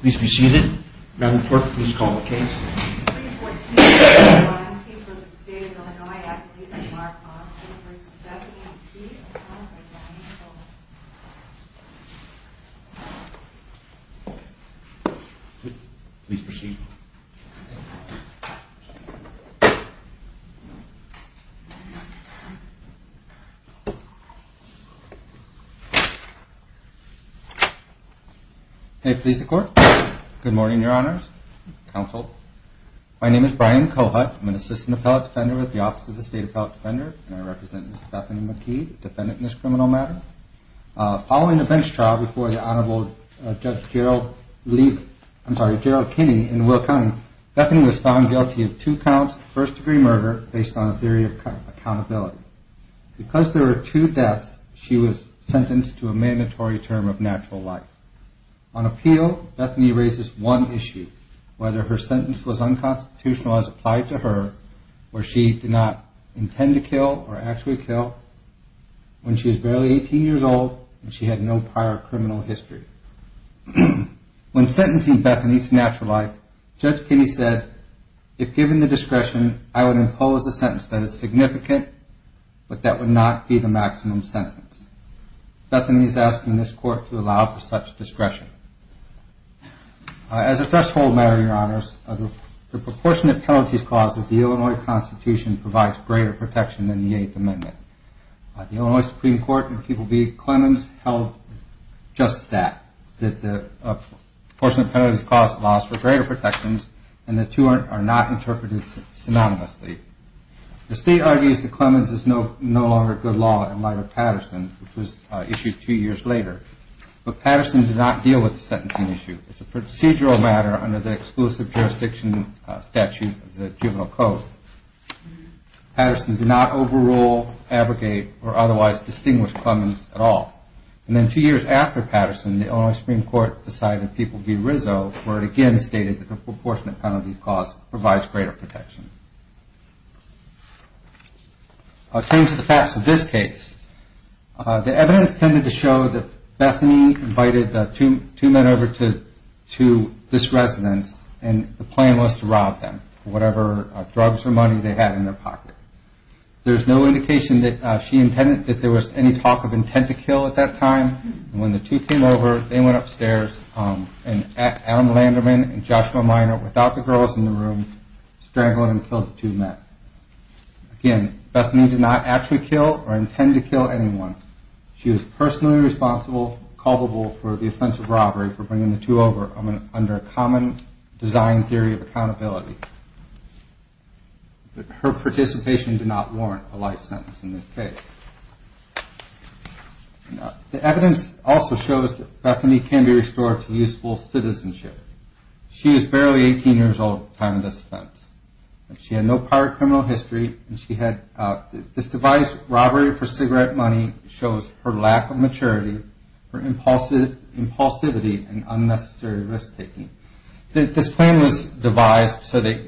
Please be seated. Madam Clerk, please call the case. Please proceed. Good morning, Your Honors. Counsel. My name is Brian Kohut. I'm an assistant appellate defender at the Office of the State Appellate Defender, and I represent Ms. Stephanie McKee, defendant in this criminal matter. Following a bench trial before Judge Gerald Kinney in Will County, Bethany was found guilty of two counts of first degree murder based on a theory of accountability. Because there were two deaths, she was sentenced to a mandatory term of natural life. On appeal, Bethany raises one issue, whether her sentence was unconstitutional as applied to her, or she did not intend to kill or actually kill when she was barely 18 years old and she had no prior criminal history. When sentencing Bethany to natural life, Judge Kinney said, if given the discretion, I would impose a sentence that is significant, but that would not be the maximum sentence. Bethany is asking this court to allow for such discretion. As a threshold matter, Your Honors, the proportionate penalties clause of the Illinois Constitution provides greater protection than the Eighth Amendment. The Illinois Supreme Court in People v. Clemens held just that, that the proportionate penalties clause allows for greater protections, and the two are not interpreted synonymously. The state argues that Clemens is no longer good law in light of Patterson, which was issued two years later, but Patterson did not deal with the sentencing issue. It's a procedural matter under the exclusive jurisdiction statute of the juvenile code. Patterson did not overrule, abrogate, or otherwise distinguish Clemens at all. And then two years after Patterson, the Illinois Supreme Court decided in People v. Rizzo where it again stated that the proportionate penalty clause provides greater protection. I'll turn to the facts of this case. The evidence tended to show that Bethany invited two men over to this residence and the plan was to rob them of whatever drugs or money they had in their pocket. There's no indication that she intended that there was any talk of intent to kill at that time. When the two came over, they went upstairs and Adam Landerman and Joshua Minor, without the girls in the room, strangled and killed the two men. Again, Bethany did not actually kill or intend to kill anyone. She was personally responsible, culpable for the offensive robbery for bringing the two over under a common design theory of accountability. But her participation did not warrant a life sentence in this case. The evidence also shows that Bethany can be restored to useful citizenship. She was barely 18 years old at the time of this offense. She had no prior criminal history. This devised robbery for cigarette money shows her lack of maturity, her impulsivity, and unnecessary risk taking. This plan was devised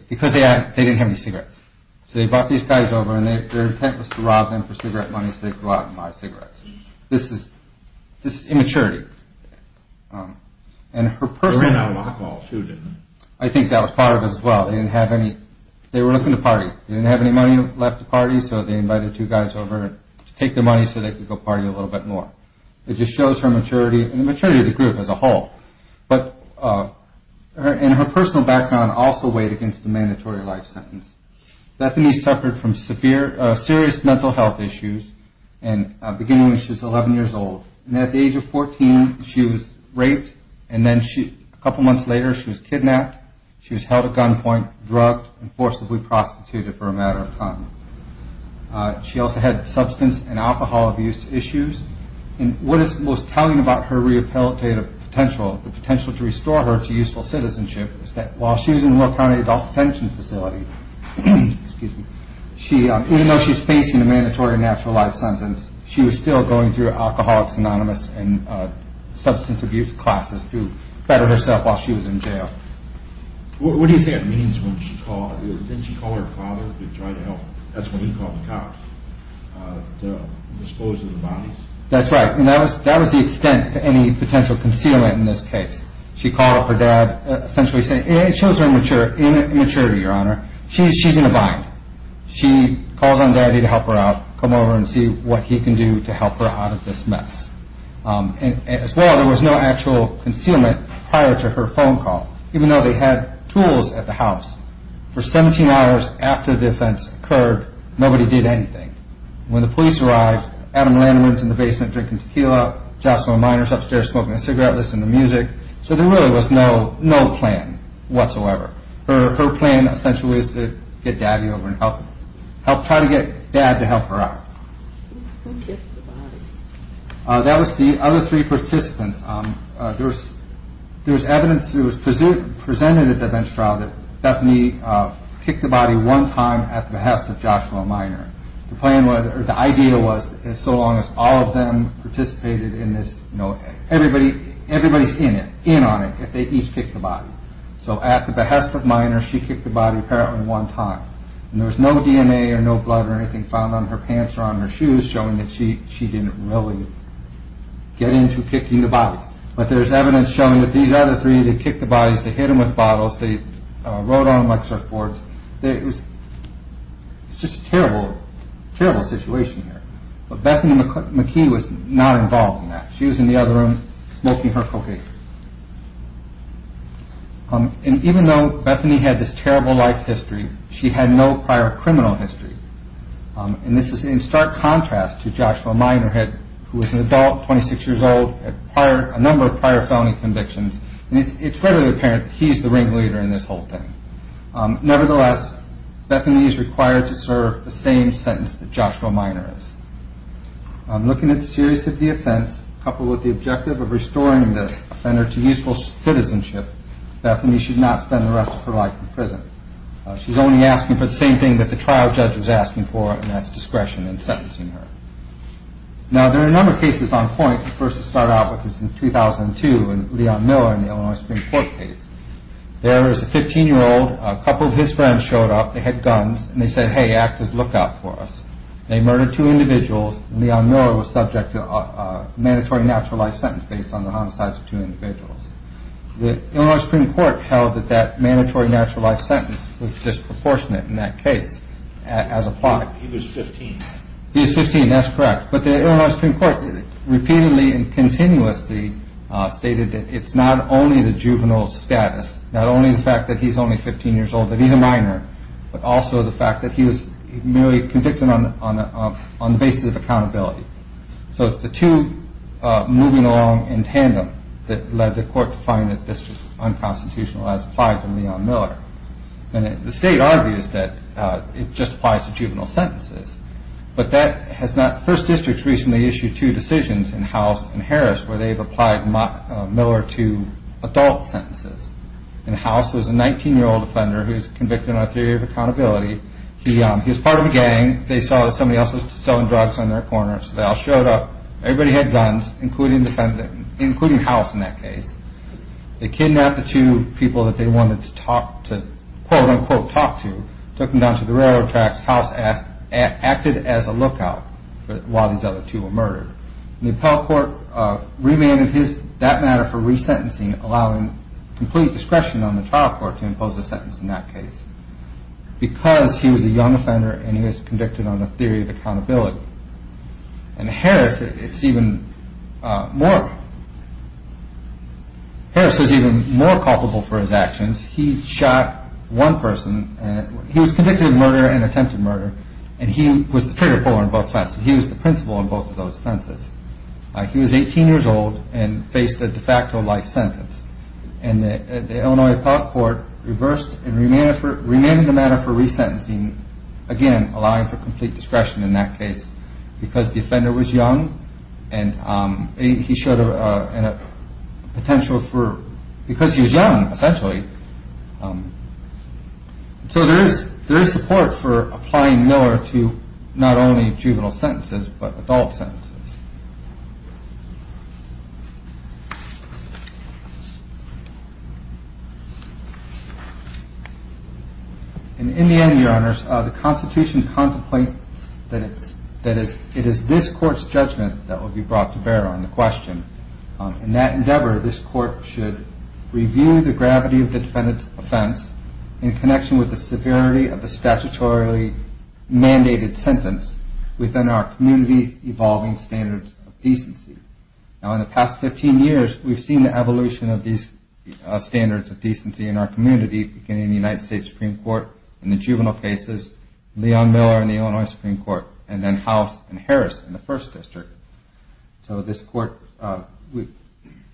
because they didn't have any cigarettes. So they brought these guys over and their intent was to rob them for cigarette money so they could go out and buy cigarettes. This is immaturity. I think that was part of it as well. They were looking to party. They didn't have any money left to party so they invited two guys over to take the money so they could go party a little bit more. It just shows her maturity and the maturity of the group as a whole. Her personal background also weighed against the mandatory life sentence. Bethany suffered from serious mental health issues beginning when she was 11 years old. At the age of 14 she was raped and a couple months later she was kidnapped. She was held at gunpoint, drugged, and forcibly prostituted for a matter of time. She also had substance and alcohol abuse issues. What is most telling about her rehabilitative potential, the potential to restore her to useful citizenship, is that while she was in Will County Adult Detention Facility, even though she was facing a mandatory natural life sentence, she was still going through alcoholics anonymous and substance abuse classes to better herself while she was in jail. What do you think that means when she called? Didn't she call her father to try to help? That's when he called the cops to dispose of the bodies? That's right. That was the extent to any potential concealment in this case. She called up her dad essentially saying it shows her immaturity, your honor. She's in a bind. She calls on daddy to help her out, come over and see what he can do to help her out of this mess. As well, there was no actual concealment prior to her phone call, even though they had tools at the house. For 17 hours after the offense occurred, nobody did anything. When the police arrived, Adam Landman was in the basement drinking tequila, Jocelyn Miners upstairs smoking a cigarette listening to music. So there really was no plan whatsoever. Her plan essentially was to get daddy over and try to get dad to help her out. Who kicked the bodies? That was the other three participants. There was evidence that was presented at the bench trial that Bethany kicked the body one time at the behest of Joshua Miner. The idea was so long as all of them participated in this, everybody's in on it if they each kicked the body. So at the behest of Miner, she kicked the body apparently one time. And there was no DNA or no blood or anything found on her pants or on her shoes showing that she didn't really get into kicking the bodies. But there's evidence showing that these other three, they kicked the bodies, they hit them with bottles, they rode on them like surfboards. It was just a terrible, terrible situation here. But Bethany McKee was not involved in that. She was in the other room smoking her cocaine. And even though Bethany had this terrible life history, she had no prior criminal history. And this is in stark contrast to Joshua Miner who was an adult, 26 years old, had a number of prior felony convictions. And it's really apparent that he's the ringleader in this whole thing. Nevertheless, Bethany is required to serve the same sentence that Joshua Miner is. I'm looking at the series of the offense coupled with the objective of restoring this offender to useful citizenship. Bethany should not spend the rest of her life in prison. She's only asking for the same thing that the trial judge was asking for, and that's discretion in sentencing her. Now, there are a number of cases on point. The first to start out with is in 2002 in Leon Miller in the Illinois Supreme Court case. There was a 15-year-old. A couple of his friends showed up. They had guns. And they said, hey, act as lookout for us. They murdered two individuals. Leon Miller was subject to a mandatory natural life sentence based on the homicides of two individuals. The Illinois Supreme Court held that that mandatory natural life sentence was disproportionate in that case as applied. He was 15. He was 15. That's correct. But the Illinois Supreme Court repeatedly and continuously stated that it's not only the juvenile status, not only the fact that he's only 15 years old, that he's a minor, but also the fact that he was merely convicted on the basis of accountability. So it's the two moving along in tandem that led the court to find that this was unconstitutional as applied to Leon Miller. And the state argues that it just applies to juvenile sentences, but that has not – first districts recently issued two decisions in House and Harris where they've applied Miller to adult sentences. And House was a 19-year-old offender who was convicted on a theory of accountability. He was part of a gang. They saw that somebody else was selling drugs on their corner. So they all showed up. Everybody had guns, including House in that case. They kidnapped the two people that they wanted to quote-unquote talk to, took them down to the railroad tracks. House acted as a lookout while these other two were murdered. And the appellate court remanded that matter for resentencing, allowing complete discretion on the trial court to impose a sentence in that case because he was a young offender and he was convicted on a theory of accountability. And Harris, it's even more – Harris was even more culpable for his actions. He shot one person. He was convicted of murder and attempted murder, and he was the trigger puller on both sides. He was 18 years old and faced a de facto life sentence. And the Illinois Appellate Court reversed and remanded the matter for resentencing, again allowing for complete discretion in that case because the offender was young and he showed a potential for – because he was young, essentially. So there is support for applying Miller to not only juvenile sentences but adult sentences. And in the end, Your Honors, the Constitution contemplates that it is this court's judgment that will be brought to bear on the question. In that endeavor, this court should review the gravity of the defendant's offense in connection with the severity of the statutorily mandated sentence within our community's evolving standards of decency. Now, in the past 15 years, we've seen the evolution of these standards of decency in our community, beginning in the United States Supreme Court in the juvenile cases, Leon Miller in the Illinois Supreme Court, and then House and Harris in the First District. So this court –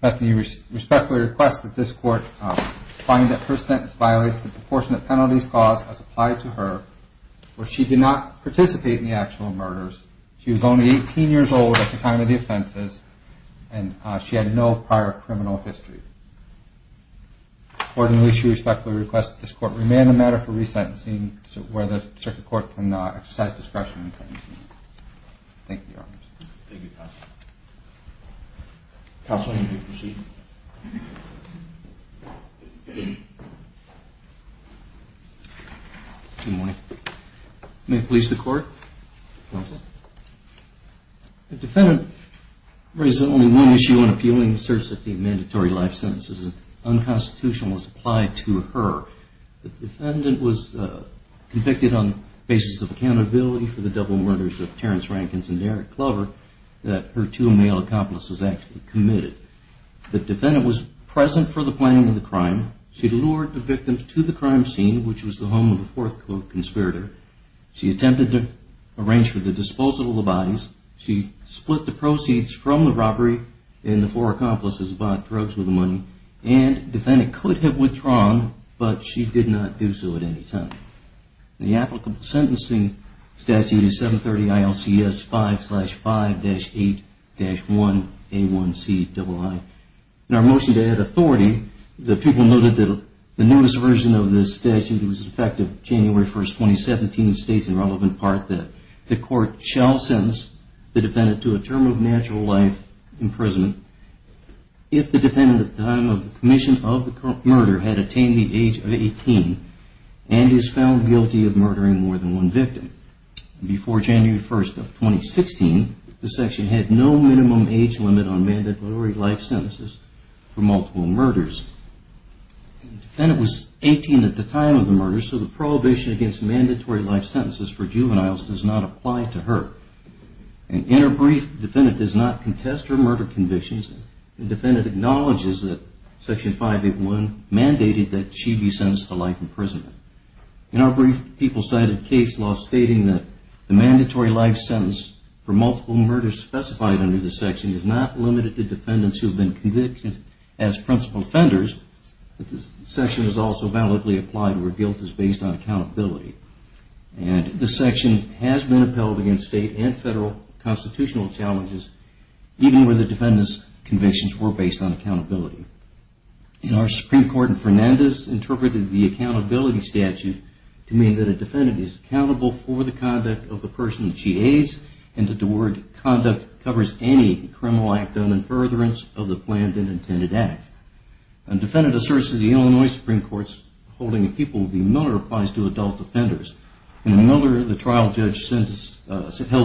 Bethany respectfully requests that this court find that her sentence violates the proportionate penalties clause as applied to her where she did not participate in the actual murders. She was only 18 years old at the time of the offenses and she had no prior criminal history. Accordingly, she respectfully requests that this court remand the matter for resentencing Thank you, Your Honors. Thank you, Counsel. Counsel, you may proceed. Good morning. May it please the Court? Counsel. The defendant raises only one issue in appealing the search safety and mandatory life sentences and unconstitutional as applied to her. The defendant was convicted on the basis of accountability for the double murders of Terrence Rankins and Derek Clover that her two male accomplices actually committed. The defendant was present for the planning of the crime. She lured the victims to the crime scene, which was the home of the fourth conspirator. She attempted to arrange for the disposal of the bodies. She split the proceeds from the robbery and the four accomplices bought drugs with the money. And the defendant could have withdrawn, but she did not do so at any time. The applicable sentencing statute is 730 ILCS 5-5-8-1A1CII. In our motion to add authority, the people noted that the newest version of this statute was effective January 1, 2017 and states in relevant part that the court shall sentence the defendant to a term of natural life imprisonment if the defendant at the time of the commission of the murder had attained the age of 18 and is found guilty of murdering more than one victim. Before January 1, 2016, the section had no minimum age limit on mandatory life sentences for multiple murders. The defendant was 18 at the time of the murder, so the prohibition against mandatory life sentences for juveniles does not apply to her. In her brief, the defendant does not contest her murder convictions. The defendant acknowledges that Section 5-8-1 mandated that she be sentenced to life imprisonment. In our brief, people cited case law stating that the mandatory life sentence for multiple murders specified under the section is not limited to defendants who have been convicted as principal offenders, but this section is also validly applied where guilt is based on accountability. And this section has been upheld against state and federal constitutional challenges, even where the defendant's convictions were based on accountability. In our Supreme Court, Fernandez interpreted the accountability statute to mean that a defendant is accountable for the conduct of the person that she aids and that the word conduct covers any criminal act done in furtherance of the planned and intended act. A defendant asserts that the Illinois Supreme Court's holding of people will be militarized to adult offenders. In Miller, the trial judge held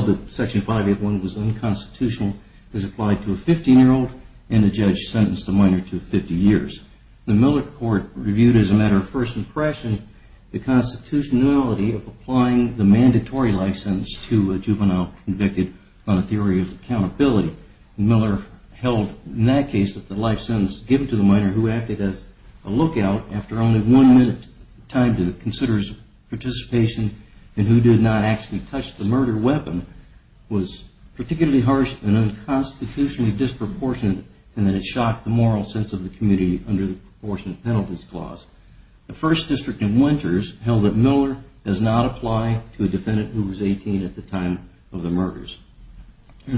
that Section 5-8-1 was unconstitutional. It was applied to a 15-year-old, and the judge sentenced the minor to 50 years. The Miller court reviewed as a matter of first impression the constitutionality of applying the mandatory life sentence to a juvenile convicted on a theory of accountability. Miller held in that case that the life sentence given to the minor who acted as a lookout after only one minute's time to consider his participation and who did not actually touch the murder weapon was particularly harsh and unconstitutionally disproportionate in that it shocked the moral sense of the community under the proportionate penalties clause. The First District of Winters held that Miller does not apply to a defendant who was 18 at the time of the murders. A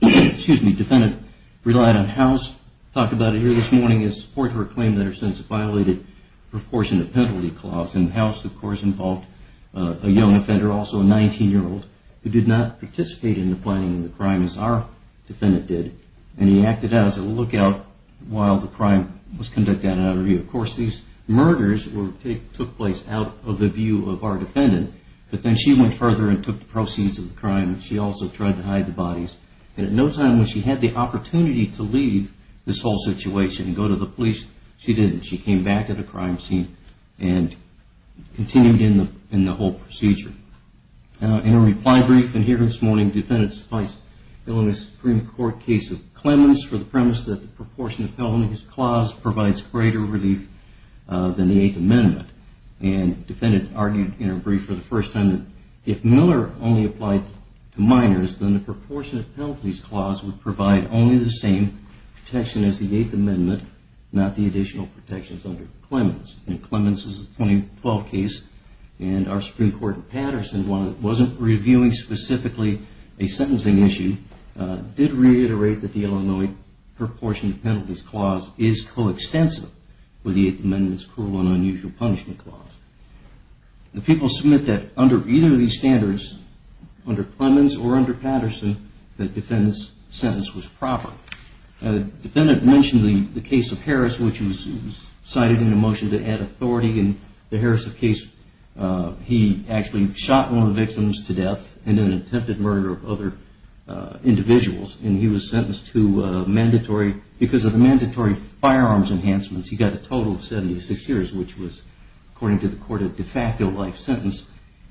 defendant relied on House, talked about it here this morning, in support of her claim that her sentence violated the proportionate penalty clause, and House, of course, involved a young offender, also a 19-year-old, who did not participate in the planning of the crime as our defendant did, and he acted as a lookout while the crime was conducted at an interview. Of course, these murders took place out of the view of our defendant, but then she went further and took the proceeds of the crime, and she also tried to hide the bodies, and at no time when she had the opportunity to leave this whole situation and go to the police, she didn't. She came back at a crime scene and continued in the whole procedure. In a reply brief in here this morning, defendants defined a Supreme Court case of Clemens for the premise that the proportionate penalty clause provides greater relief than the Eighth Amendment, and the defendant argued in her brief for the first time that if Miller only applied to minors, then the proportionate penalties clause would provide only the same protection as the Eighth Amendment, not the additional protections under Clemens, and Clemens is a 2012 case and our Supreme Court in Patterson wasn't reviewing specifically a sentencing issue, did reiterate that the Illinois proportionate penalties clause is coextensive with the Eighth Amendment's cruel and unusual punishment clause. The people submit that under either of these standards, under Clemens or under Patterson, the defendant's sentence was proper. The defendant mentioned the case of Harris, which was cited in a motion that had authority in the Harris case. He actually shot one of the victims to death in an attempted murder of other individuals, and he was sentenced to mandatory, because of the mandatory firearms enhancements, he got a total of 76 years, which was, according to the court, a de facto life sentence,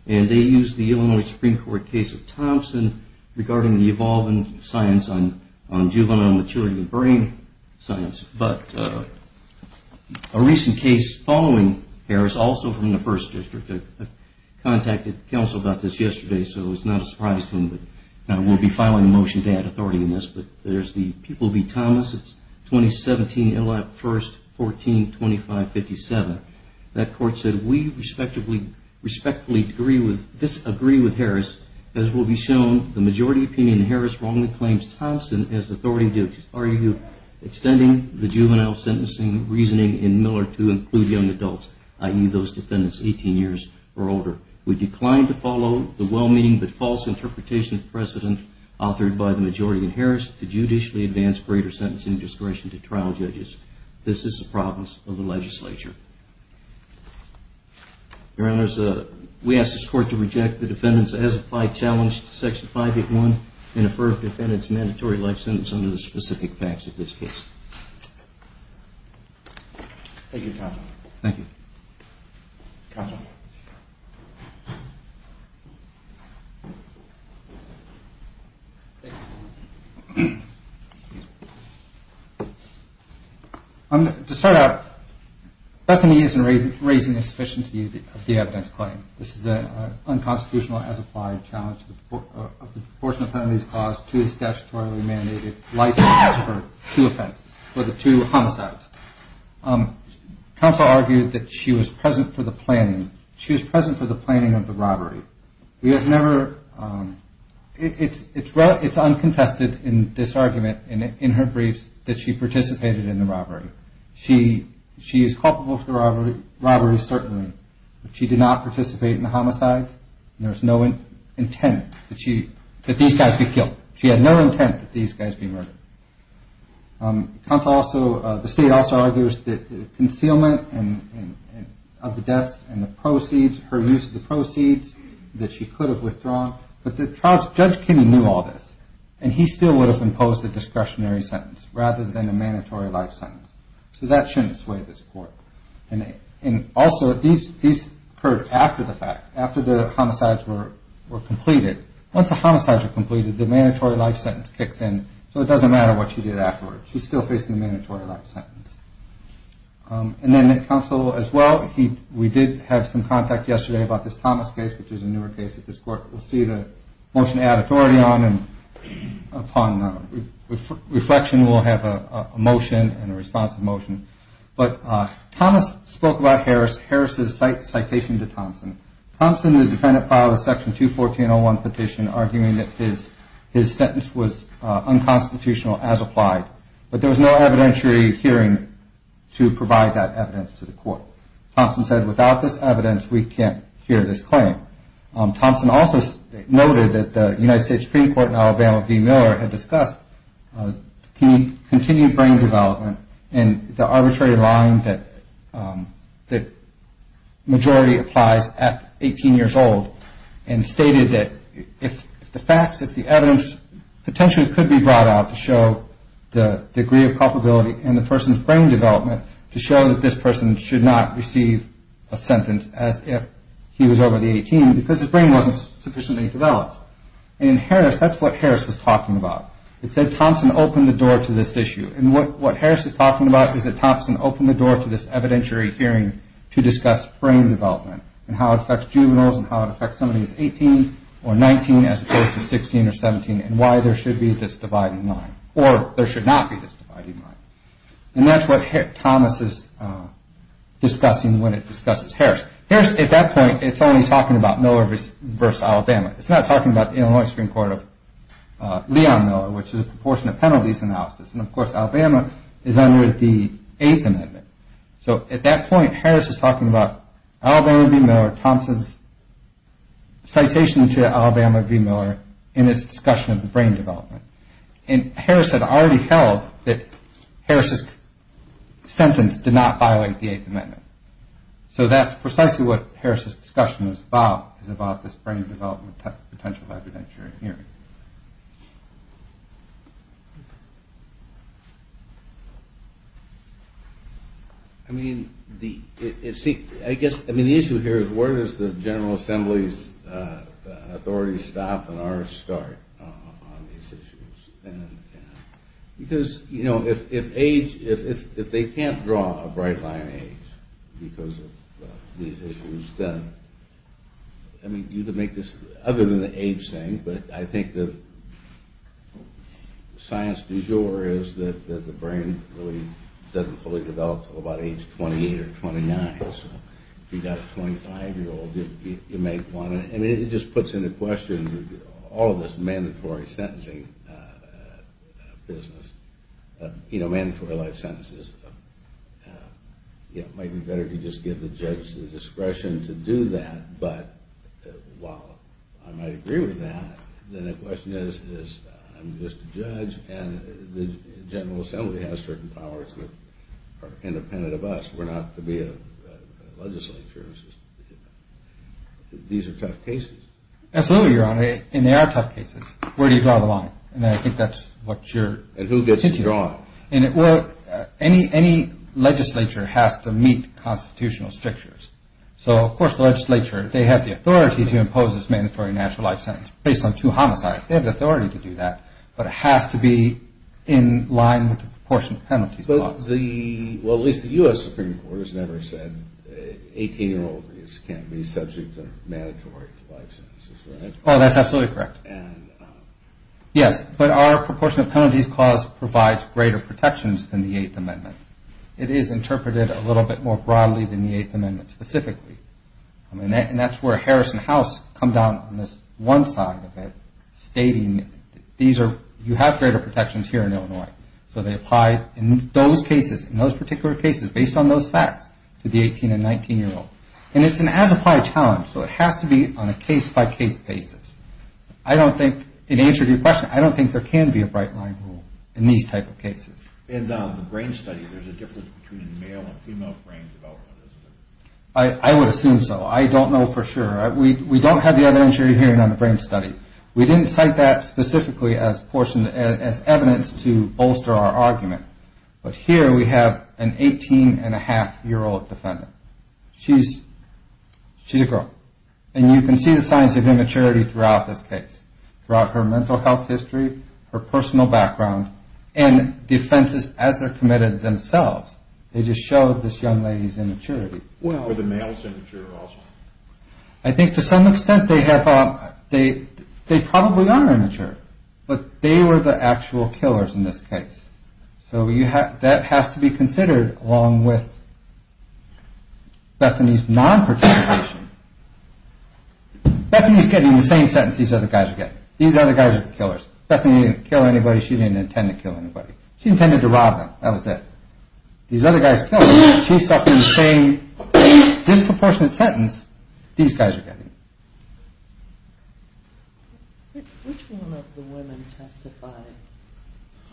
and they used the Illinois Supreme Court case of Thompson regarding the evolving science on juvenile maturity and brain science, but a recent case following Harris, also from the First District, I contacted counsel about this yesterday, so it was not a surprise to him, but now we'll be filing a motion to add authority in this, but there's the People v. Thomas, it's 2017, 1st, 14, 2557. That court said, we respectfully disagree with Harris. As will be shown, the majority opinion in Harris wrongly claims Thompson has authority to argue extending the juvenile sentencing reasoning in Miller to include young adults, i.e., those defendants 18 years or older. We decline to follow the well-meaning but false interpretation of precedent authored by the majority in Harris to judicially advance greater sentencing discretion to trial judges. This is the province of the legislature. Your Honors, we ask this court to reject the defendant's as-applied challenge to Section 581 and defer defendant's mandatory life sentence under the specific facts of this case. Thank you, counsel. Thank you. Counsel. Thank you. To start out, Bethany isn't raising insufficiency of the evidence claim. This is an unconstitutional as-applied challenge of the proportionate penalties caused to the statutorily mandated life sentence for two offenses, for the two homicides. Counsel argued that she was present for the planning. She was present for the planning of the robbery. It's uncontested in this argument in her briefs that she participated in the robbery. She is culpable for the robbery, certainly, but she did not participate in the homicides and there was no intent that these guys be killed. She had no intent that these guys be murdered. The state also argues that the concealment of the deaths and the proceeds, her use of the proceeds, that she could have withdrawn. But Judge Kinney knew all this and he still would have imposed a discretionary sentence rather than a mandatory life sentence. So that shouldn't sway this court. And also, these occurred after the fact, after the homicides were completed. Once the homicides are completed, the mandatory life sentence kicks in, so it doesn't matter what she did afterwards. She's still facing the mandatory life sentence. And then counsel, as well, we did have some contact yesterday about this Thomas case, which is a newer case at this court. We'll see the motion to add authority on and upon reflection we'll have a motion and a responsive motion. But Thomas spoke about Harris. Harris's citation to Thompson. Thompson, the defendant, filed a section 214.01 petition arguing that his sentence was unconstitutional as applied. But there was no evidentiary hearing to provide that evidence to the court. Thompson said, without this evidence, we can't hear this claim. Thompson also noted that the United States Supreme Court in Alabama, Dean Miller had discussed continued brain development and the arbitrary line that majority applies at 18 years old and stated that if the facts, if the evidence, potentially could be brought out to show the degree of culpability and the person's brain development to show that this person should not receive a sentence as if he was over the age of 18 because his brain wasn't sufficiently developed. And in Harris, that's what Harris was talking about. It said Thompson opened the door to this issue. And what Harris is talking about is that Thompson opened the door to this evidentiary hearing to discuss brain development and how it affects juveniles and how it affects somebody who is 18 or 19 as opposed to 16 or 17 and why there should be this dividing line or there should not be this dividing line. And that's what Thomas is discussing when it discusses Harris. Harris, at that point, is only talking about Miller v. Alabama. It's not talking about the Illinois Supreme Court of Leon Miller, which is a proportionate penalties analysis. And of course, Alabama is under the Eighth Amendment. So at that point, Harris is talking about Alabama v. Miller, Thompson's citation to Alabama v. Miller in his discussion of the brain development. And Harris had already held that Harris's sentence did not violate the Eighth Amendment. So that's precisely what Harris's discussion is about, is about this brain development potential evidentiary hearing. I mean, the issue here is where does the General Assembly's authority stop and our start on these issues? Because, you know, if age, if they can't draw a bright line age because of these issues, I mean, you can make this other than the age thing, but I think the science du jour is that the brain really doesn't fully develop until about age 28 or 29. So if you've got a 25-year-old, you make one. I mean, it just puts into question all of this mandatory sentencing business, you know, mandatory life sentences. You know, it might be better to just give the judge the discretion to do that, but while I might agree with that, then the question is I'm just a judge and the General Assembly has certain powers that are independent of us. We're not to be a legislature. These are tough cases. Absolutely, Your Honor, and they are tough cases. Where do you draw the line? And I think that's what you're... And who gets to draw it? Any legislature has to meet constitutional strictures. So, of course, the legislature, they have the authority to impose this mandatory natural life sentence based on two homicides. They have the authority to do that, but it has to be in line with the proportion of penalties. Well, at least the U.S. Supreme Court has never said 18-year-olds can't be subject to mandatory life sentences, right? Oh, that's absolutely correct. Yes, but our proportion of penalties clause provides greater protections than the Eighth Amendment. It is interpreted a little bit more broadly than the Eighth Amendment specifically, and that's where Harris and House come down on this one side of it stating these are... You have greater protections here in Illinois, so they apply in those cases, in those particular cases based on those facts to the 18- and 19-year-old, and it's an as-applied challenge, so it has to be on a case-by-case basis. I don't think, in answer to your question, I don't think there can be a bright-line rule in these type of cases. And on the brain study, there's a difference between male and female brains development, isn't there? I would assume so. I don't know for sure. We don't have the evidence you're hearing on the brain study. We didn't cite that specifically as evidence to bolster our argument, but here we have an 18-and-a-half-year-old defendant. She's a girl, and you can see the signs of immaturity throughout this case, throughout her mental health history, her personal background, and the offenses as they're committed themselves. They just show this young lady's immaturity. Were the males immature also? I think to some extent they probably are immature, but they were the actual killers in this case. So that has to be considered along with Bethany's non-participation. Bethany's getting the same sentence these other guys are getting. These other guys are the killers. Bethany didn't kill anybody. She didn't intend to kill anybody. She intended to rob them. That was it. These other guys killed her. She's suffering the same disproportionate sentence these guys are getting. Which one of the women testified?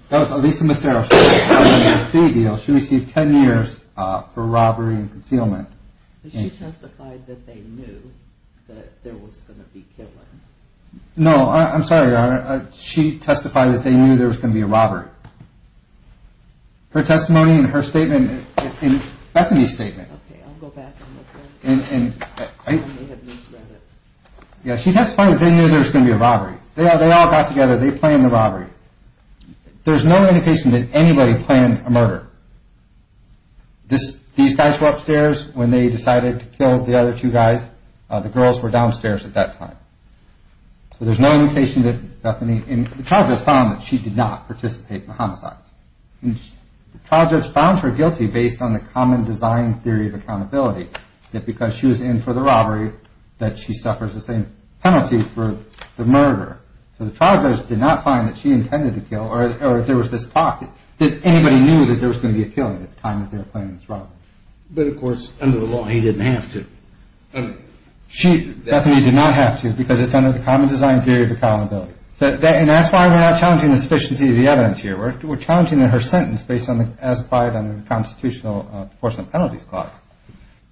That was Elisa Macero. She received 10 years for robbery and concealment. But she testified that they knew that there was going to be killing. No, I'm sorry, Your Honor. She testified that they knew there was going to be a robbery. Her testimony and her statement and Bethany's statement. Okay, I'll go back and look at it. I may have misread it. Yeah, she testified that they knew there was going to be a robbery. They all got together. They planned the robbery. There's no indication that anybody planned a murder. These guys were upstairs when they decided to kill the other two guys. The girls were downstairs at that time. So there's no indication that Bethany, and the trial judge found that she did not participate in the homicides. The trial judge found her guilty based on the common design theory of accountability, that because she was in for the robbery that she suffers the same penalty for the murder. So the trial judge did not find that she intended to kill, or that there was this talk that anybody knew that there was going to be a killing at the time that they were planning this robbery. But, of course, under the law he didn't have to. Bethany did not have to because it's under the common design theory of accountability. And that's why we're not challenging the sufficiency of the evidence here. We're challenging her sentence based on the as-applied constitutional proportionate penalties clause.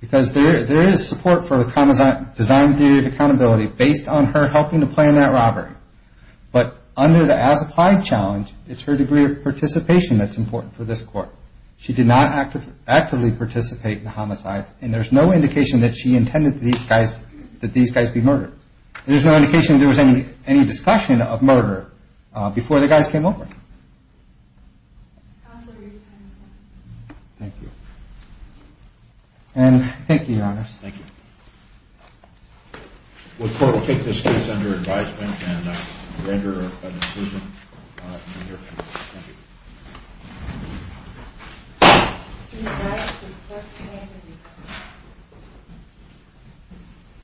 Because there is support for the design theory of accountability based on her helping to plan that robbery. But under the as-applied challenge, it's her degree of participation that's important for this court. She did not actively participate in the homicides, and there's no indication that she intended that these guys be murdered. There's no indication that there was any discussion of murder before the guys came over. Counsel, your time is up. Thank you. And thank you, Your Honor. Thank you. The court will take this case under advisement and render a decision in the near future. Thank you.